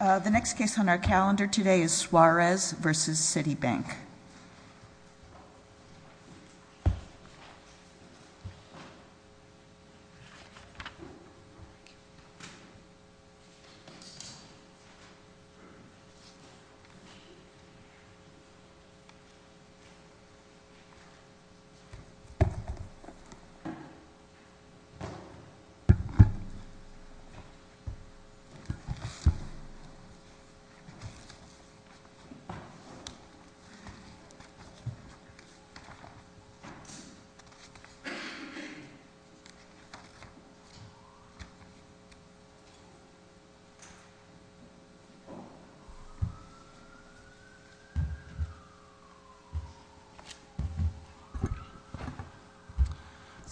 The next case on our calendar today is Suarez v. Citibank. Eric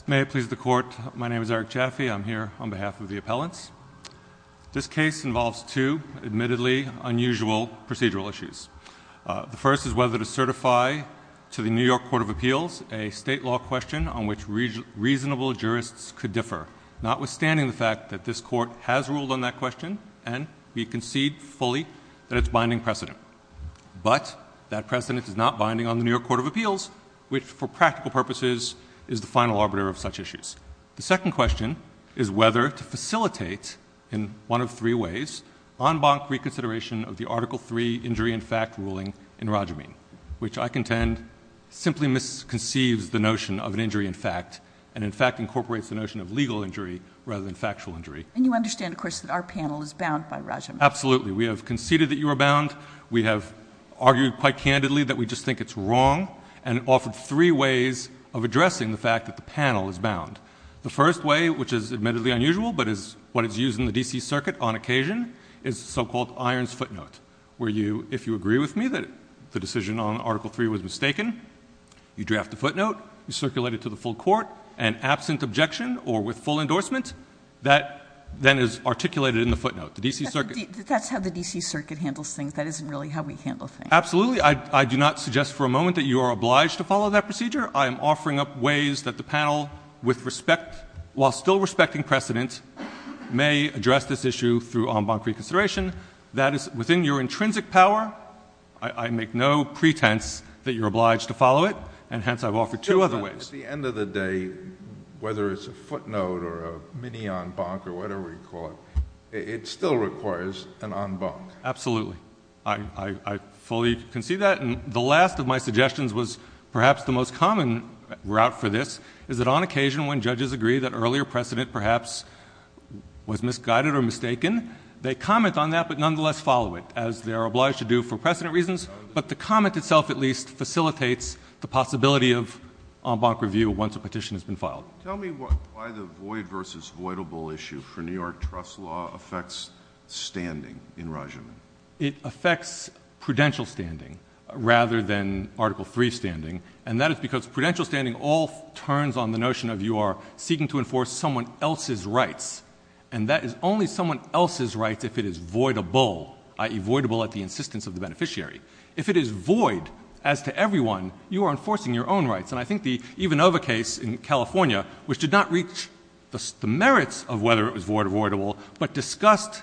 Chaffee May it please the court, my name is Eric Chaffee, I'm here on behalf of the appellants. This case involves two admittedly unusual procedural issues. The first is whether to certify to the New York Court of Appeals a state law question on which reasonable jurists could differ, notwithstanding the fact that this court has ruled on that question and we concede fully that it's binding precedent. But that precedent is not binding on the New York Court of Appeals, which for practical purposes is the final arbiter of such issues. The second question is whether to facilitate, in one of three ways, en banc reconsideration of the Article III injury in fact ruling in Rajamin, which I contend simply misconceives the notion of an injury in fact and in fact incorporates the notion of legal injury rather than factual injury. And you understand, of course, that our panel is bound by Rajamin. Absolutely. We have conceded that you are bound. We have argued quite candidly that we just think it's wrong and offered three ways of addressing the fact that the panel is bound. The first way, which is admittedly unusual, but is what is used in the D.C. Circuit on occasion, is the so-called irons footnote, where you, if you agree with me, that the decision on Article III was mistaken, you draft the footnote, you circulate it to the full court, and absent objection or with full endorsement, that then is articulated in the footnote. That's how the D.C. Circuit handles things. That isn't really how we handle things. Absolutely. I do not suggest for a moment that you are obliged to follow that procedure. I am offering up ways that the panel, while still respecting precedent, may address this issue through en banc reconsideration. That is within your intrinsic power. I make no pretense that you're obliged to follow it, and hence I've offered two other ways. At the end of the day, whether it's a footnote or a mini-en banc or whatever you call it, it still requires an en banc. Absolutely. I fully concede that. And the last of my suggestions was perhaps the most common route for this, is that on occasion when judges agree that earlier precedent perhaps was misguided or mistaken, they comment on that but nonetheless follow it, as they're obliged to do for precedent reasons, but the comment itself at least facilitates the possibility of en banc review once a petition has been filed. Tell me why the void versus voidable issue for New York trust law affects standing in Rajaman. It affects prudential standing rather than Article III standing, and that is because prudential standing all turns on the notion of you are seeking to enforce someone else's rights, and that is only someone else's rights if it is voidable, i.e., voidable at the insistence of the beneficiary. If it is void as to everyone, you are enforcing your own rights, and I think the Ivanova case in California, which did not reach the merits of whether it was void or voidable, but discussed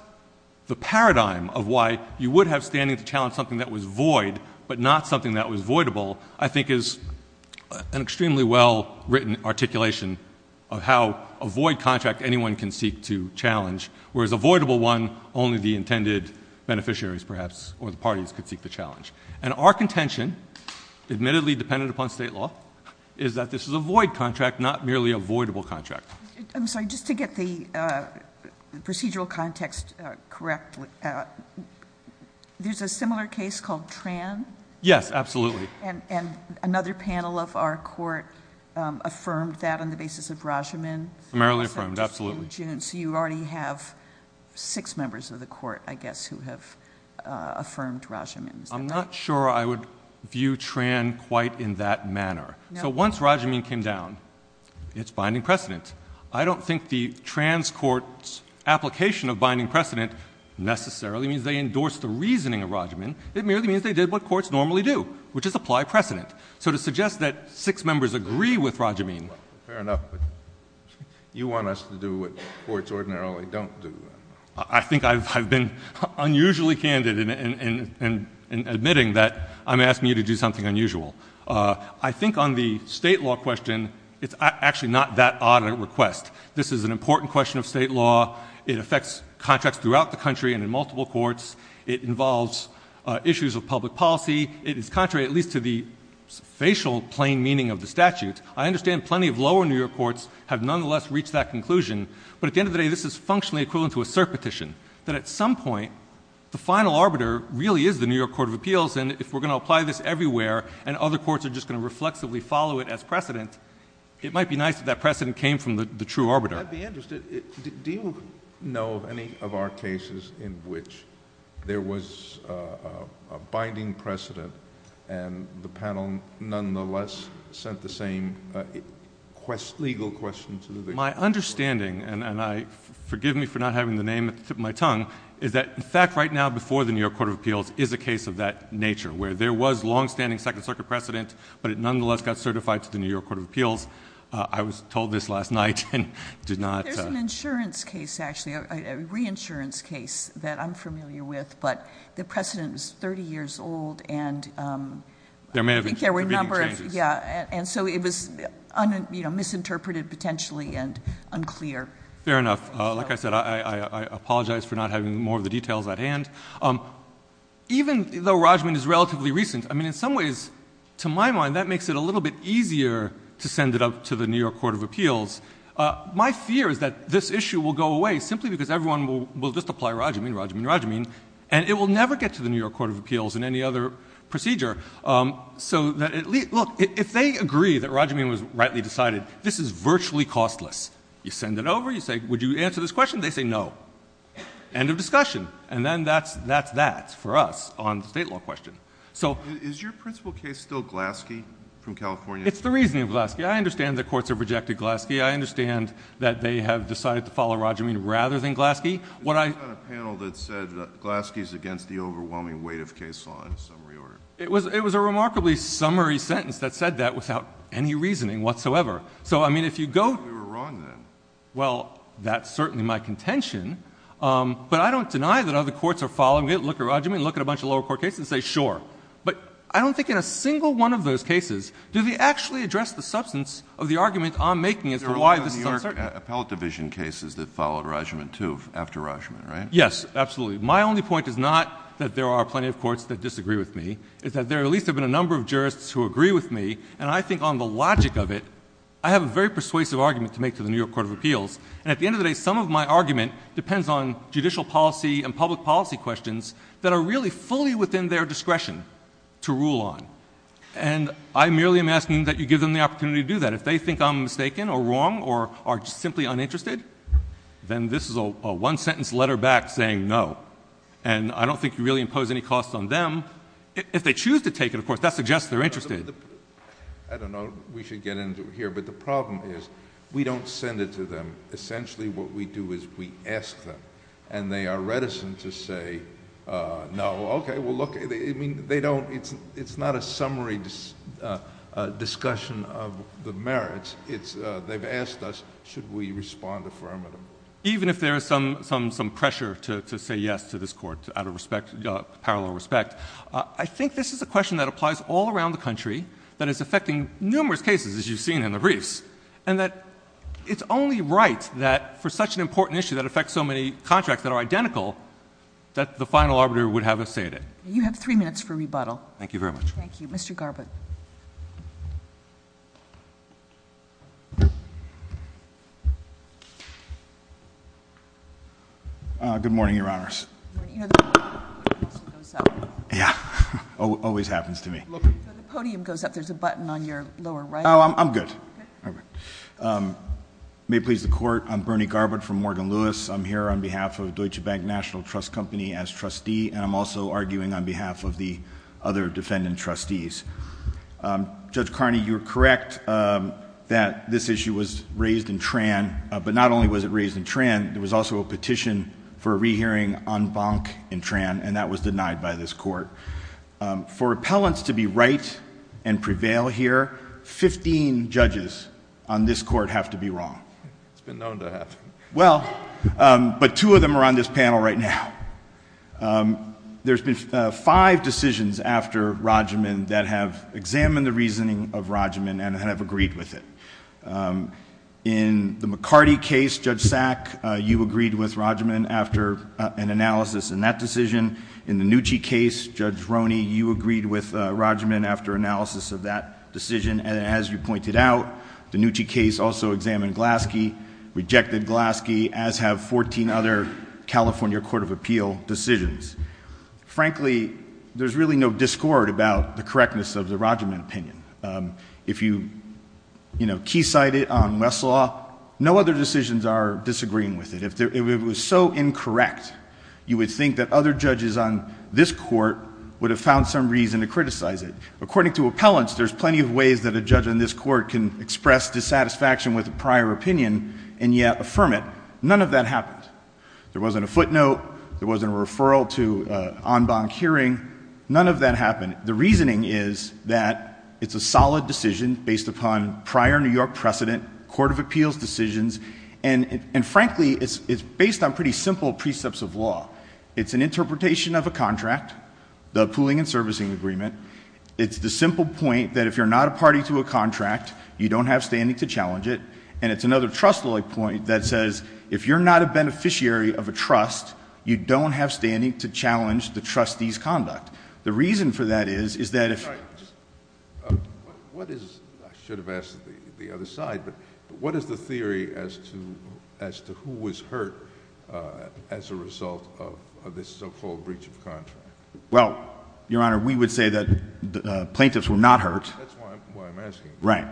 the paradigm of why you would have standing to challenge something that was void but not something that was voidable, I think is an extremely well-written articulation of how a void contract anyone can seek to challenge, whereas a voidable one only the intended beneficiaries perhaps or the parties could seek to challenge. And our contention, admittedly dependent upon state law, is that this is a void contract, not merely a voidable contract. I'm sorry, just to get the procedural context correct, there's a similar case called Tran? Yes, absolutely. And another panel of our court affirmed that on the basis of Rajaman? Primarily affirmed, absolutely. So you already have six members of the court, I guess, who have affirmed Rajaman. I'm not sure I would view Tran quite in that manner. So once Rajaman came down, it's binding precedent. I don't think the Tran's court's application of binding precedent necessarily means they endorsed the reasoning of Rajaman. It merely means they did what courts normally do, which is apply precedent. So to suggest that six members agree with Rajaman? Fair enough, but you want us to do what courts ordinarily don't do. I think I've been unusually candid in admitting that I'm asking you to do something unusual. I think on the state law question, it's actually not that odd a request. This is an important question of state law. It affects contracts throughout the country and in multiple courts. It involves issues of public policy. It is contrary at least to the facial plain meaning of the statute. I understand plenty of lower New York courts have nonetheless reached that conclusion. But at the end of the day, this is functionally equivalent to a cert petition. That at some point, the final arbiter really is the New York Court of Appeals, and if we're going to apply this everywhere and other courts are just going to reflexively follow it as precedent, it might be nice if that precedent came from the true arbiter. I'd be interested. Do you know of any of our cases in which there was a binding precedent and the panel nonetheless sent the same legal question to the court? My understanding, and forgive me for not having the name at the tip of my tongue, is that in fact right now before the New York Court of Appeals is a case of that nature, where there was longstanding Second Circuit precedent, but it nonetheless got certified to the New York Court of Appeals. I was told this last night and did not. There's an insurance case actually, a reinsurance case that I'm familiar with, but the precedent was 30 years old and I think there were a number of changes. And so it was misinterpreted potentially and unclear. Fair enough. Like I said, I apologize for not having more of the details at hand. Even though Rajmeen is relatively recent, I mean, in some ways, to my mind, that makes it a little bit easier to send it up to the New York Court of Appeals. My fear is that this issue will go away simply because everyone will just apply Rajmeen, Rajmeen, Rajmeen, and it will never get to the New York Court of Appeals in any other procedure. Look, if they agree that Rajmeen was rightly decided, this is virtually costless. You send it over. You say, would you answer this question? They say no. End of discussion. And then that's that for us on the state law question. Is your principal case still Glaske from California? It's the reasoning of Glaske. I understand that courts have rejected Glaske. I understand that they have decided to follow Rajmeen rather than Glaske. This is not a panel that said that Glaske is against the overwhelming weight of case law in summary order. It was a remarkably summary sentence that said that without any reasoning whatsoever. So, I mean, if you go to— You were wrong then. Well, that's certainly my contention. But I don't deny that other courts are following it, look at Rajmeen, look at a bunch of lower court cases and say, sure. But I don't think in a single one of those cases do they actually address the substance of the argument I'm making as to why this is uncertain. There are a lot of New York appellate division cases that followed Rajmeen, too, after Rajmeen, right? Yes, absolutely. My only point is not that there are plenty of courts that disagree with me. It's that there at least have been a number of jurists who agree with me. And I think on the logic of it, I have a very persuasive argument to make to the New York Court of Appeals. And at the end of the day, some of my argument depends on judicial policy and public policy questions that are really fully within their discretion to rule on. And I merely am asking that you give them the opportunity to do that. And if they think I'm mistaken or wrong or are simply uninterested, then this is a one-sentence letter back saying no. And I don't think you really impose any costs on them. If they choose to take it, of course, that suggests they're interested. I don't know if we should get into it here, but the problem is we don't send it to them. They've asked us, should we respond affirmatively? Even if there is some pressure to say yes to this court out of respect, parallel respect, I think this is a question that applies all around the country, that is affecting numerous cases, as you've seen in the briefs, and that it's only right that for such an important issue that affects so many contracts that are identical, that the final arbiter would have a say in it. You have three minutes for rebuttal. Thank you very much. Thank you. Mr. Garbutt. Good morning, Your Honors. You know the podium also goes up. Yeah, always happens to me. The podium goes up. There's a button on your lower right. Oh, I'm good. May it please the Court, I'm Bernie Garbutt from Morgan Lewis. I'm here on behalf of Deutsche Bank National Trust Company as trustee, and I'm also arguing on behalf of the other defendant trustees. Judge Carney, you're correct that this issue was raised in Tran, but not only was it raised in Tran, there was also a petition for a rehearing en banc in Tran, and that was denied by this court. For appellants to be right and prevail here, 15 judges on this court have to be wrong. It's been known to happen. Well, but two of them are on this panel right now. There's been five decisions after Roggeman that have examined the reasoning of Roggeman and have agreed with it. In the McCarty case, Judge Sack, you agreed with Roggeman after an analysis in that decision. In the Nucci case, Judge Roney, you agreed with Roggeman after analysis of that decision. And as you pointed out, the Nucci case also examined Glaske, rejected Glaske, as have 14 other California Court of Appeal decisions. Frankly, there's really no discord about the correctness of the Roggeman opinion. If you, you know, key cite it on Westlaw, no other decisions are disagreeing with it. If it was so incorrect, you would think that other judges on this court would have found some reason to criticize it. According to appellants, there's plenty of ways that a judge on this court can express dissatisfaction with a prior opinion and yet affirm it. None of that happened. There wasn't a footnote. There wasn't a referral to en banc hearing. None of that happened. The reasoning is that it's a solid decision based upon prior New York precedent, Court of Appeals decisions. And frankly, it's based on pretty simple precepts of law. It's an interpretation of a contract, the pooling and servicing agreement. It's the simple point that if you're not a party to a contract, you don't have standing to challenge it. And it's another trustworthy point that says, if you're not a beneficiary of a trust, you don't have standing to challenge the trustee's conduct. The reason for that is, is that if- I should have asked the other side, but what is the theory as to who was hurt as a result of this so-called breach of contract? Well, Your Honor, we would say that the plaintiffs were not hurt. That's why I'm asking. Right.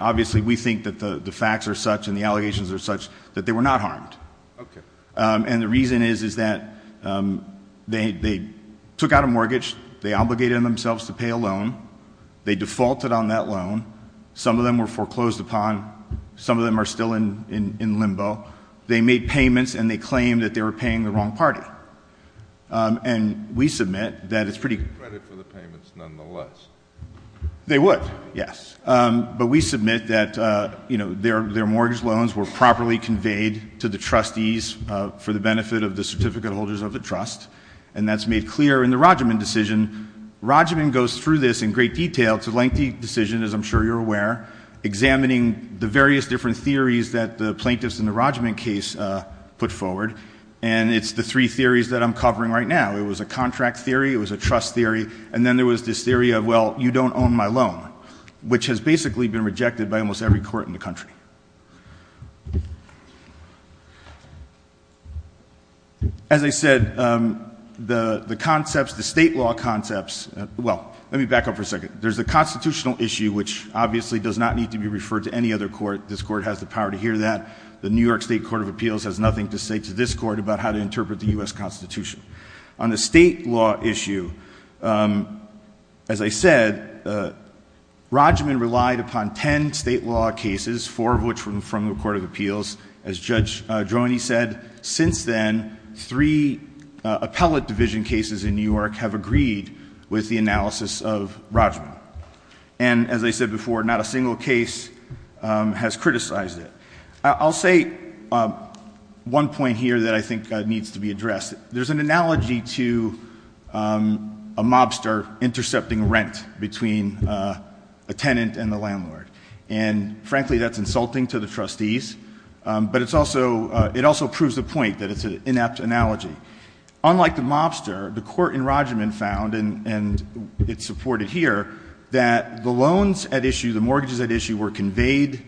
Obviously, we think that the facts are such and the allegations are such that they were not harmed. Okay. And the reason is, is that they took out a mortgage. They obligated themselves to pay a loan. They defaulted on that loan. Some of them were foreclosed upon. Some of them are still in limbo. They made payments, and they claimed that they were paying the wrong party. And we submit that it's pretty- Credit for the payments, nonetheless. They would, yes. But we submit that, you know, their mortgage loans were properly conveyed to the trustees for the benefit of the certificate holders of the trust. And that's made clear in the Roggeman decision. Roggeman goes through this in great detail. It's a lengthy decision, as I'm sure you're aware, examining the various different theories that the plaintiffs in the Roggeman case put forward. And it's the three theories that I'm covering right now. It was a contract theory. It was a trust theory. And then there was this theory of, well, you don't own my loan, which has basically been rejected by almost every court in the country. As I said, the concepts, the state law concepts- Well, let me back up for a second. There's the constitutional issue, which obviously does not need to be referred to any other court. This court has the power to hear that. The New York State Court of Appeals has nothing to say to this court about how to interpret the U.S. Constitution. On the state law issue, as I said, Roggeman relied upon ten state law cases, four of which were from the Court of Appeals. As Judge Droney said, since then, three appellate division cases in New York have agreed with the analysis of Roggeman. And as I said before, not a single case has criticized it. I'll say one point here that I think needs to be addressed. There's an analogy to a mobster intercepting rent between a tenant and the landlord. And, frankly, that's insulting to the trustees, but it also proves the point that it's an inept analogy. Unlike the mobster, the court in Roggeman found, and it's supported here, that the loans at issue, the mortgages at issue, were conveyed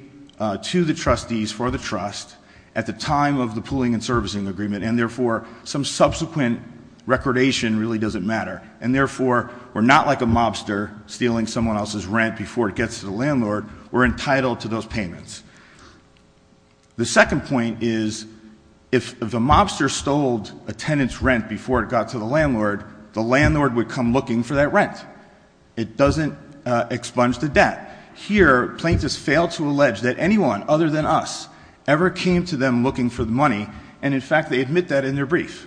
to the trustees for the trust at the time of the pooling and servicing agreement. And, therefore, some subsequent recordation really doesn't matter. And, therefore, we're not like a mobster stealing someone else's rent before it gets to the landlord. We're entitled to those payments. The second point is if the mobster stole a tenant's rent before it got to the landlord, the landlord would come looking for that rent. It doesn't expunge the debt. Here, plaintiffs fail to allege that anyone other than us ever came to them looking for the money. And, in fact, they admit that in their brief.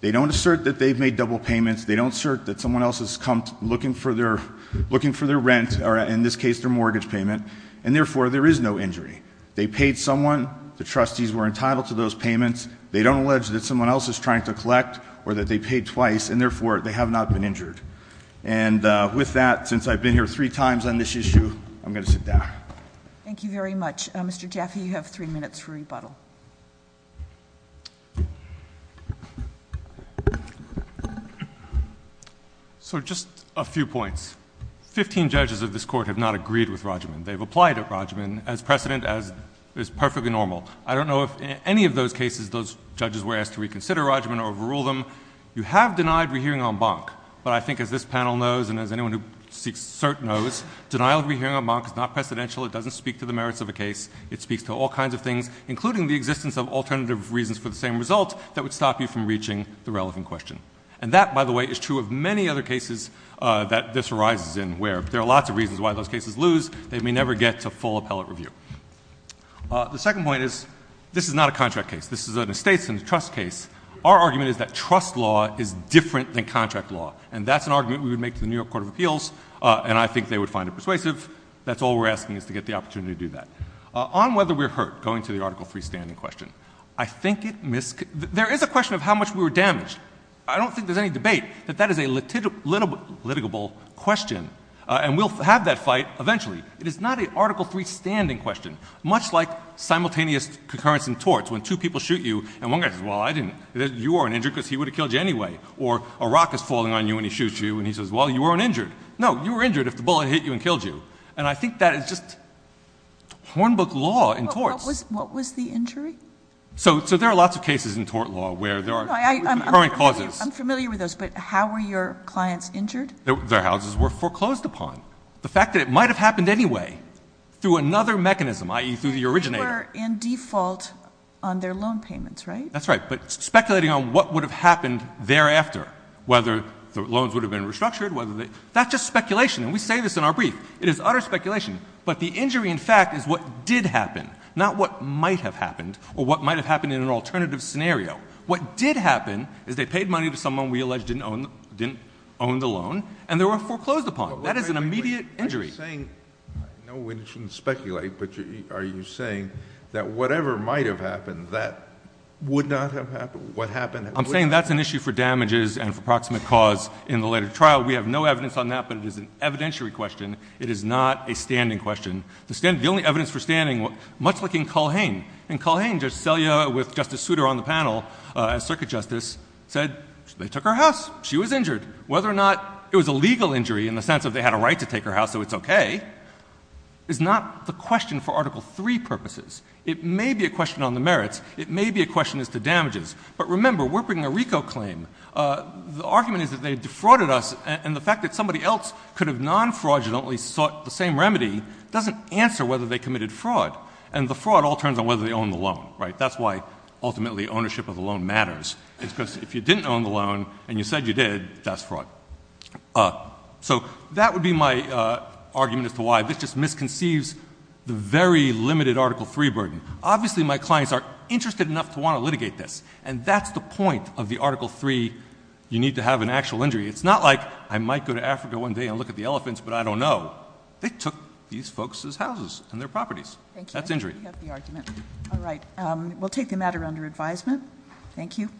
They don't assert that they've made double payments. They don't assert that someone else has come looking for their rent or, in this case, their mortgage payment. And, therefore, there is no injury. They paid someone. The trustees were entitled to those payments. They don't allege that someone else is trying to collect or that they paid twice. And, therefore, they have not been injured. And with that, since I've been here three times on this issue, I'm going to sit down. Thank you very much. Mr. Jaffe, you have three minutes for rebuttal. So just a few points. Fifteen judges of this court have not agreed with Rajman. They've applied to Rajman as precedent as is perfectly normal. I don't know if in any of those cases those judges were asked to reconsider Rajman or overrule them. You have denied rehearing en banc. But I think, as this panel knows and as anyone who seeks cert knows, denial of rehearing en banc is not precedential. It doesn't speak to the merits of a case. It speaks to all kinds of things, including the existence of alternative reasons for the same result that would stop you from reaching the relevant question. And that, by the way, is true of many other cases that this arises in where there are lots of reasons why those cases lose. They may never get to full appellate review. The second point is this is not a contract case. This is an estate and trust case. Our argument is that trust law is different than contract law. And that's an argument we would make to the New York Court of Appeals, and I think they would find it persuasive. That's all we're asking is to get the opportunity to do that. On whether we're hurt, going to the Article III standing question, I think it mis- There is a question of how much we were damaged. I don't think there's any debate that that is a litigable question, and we'll have that fight eventually. It is not an Article III standing question. Much like simultaneous concurrence in torts when two people shoot you and one guy says, well, I didn't. You weren't injured because he would have killed you anyway. Or a rock is falling on you and he shoots you and he says, well, you weren't injured. No, you were injured if the bullet hit you and killed you. And I think that is just Hornbook law in torts. What was the injury? So there are lots of cases in tort law where there are concurrent causes. I'm familiar with those, but how were your clients injured? Their houses were foreclosed upon. The fact that it might have happened anyway through another mechanism, i.e., through the originator. They were in default on their loan payments, right? That's right. But speculating on what would have happened thereafter, whether the loans would have been restructured, whether they — that's just speculation. And we say this in our brief. It is utter speculation. But the injury, in fact, is what did happen, not what might have happened or what might have happened in an alternative scenario. What did happen is they paid money to someone we allege didn't own the loan, and they were foreclosed upon. That is an immediate injury. Are you saying — I know we shouldn't speculate, but are you saying that whatever might have happened, that would not have happened? What happened — I'm saying that's an issue for damages and for proximate cause in the later trial. We have no evidence on that, but it is an evidentiary question. It is not a standing question. The only evidence for standing, much like in Culhane. In Culhane, Judge Selya, with Justice Souter on the panel, a circuit justice, said they took her house. She was injured. Whether or not it was a legal injury in the sense that they had a right to take her house, so it's okay, is not the question for Article III purposes. It may be a question on the merits. It may be a question as to damages. But remember, we're bringing a RICO claim. The argument is that they defrauded us, and the fact that somebody else could have nonfraudulently sought the same remedy doesn't answer whether they committed fraud. And the fraud all turns on whether they owned the loan, right? That's why, ultimately, ownership of the loan matters. It's because if you didn't own the loan and you said you did, that's fraud. So that would be my argument as to why this just misconceives the very limited Article III burden. Obviously, my clients are interested enough to want to litigate this, and that's the point of the Article III, you need to have an actual injury. It's not like I might go to Africa one day and look at the elephants, but I don't know. They took these folks' houses and their properties. That's injury. Thank you. You have the argument. All right. We'll take the matter under advisement. Thank you.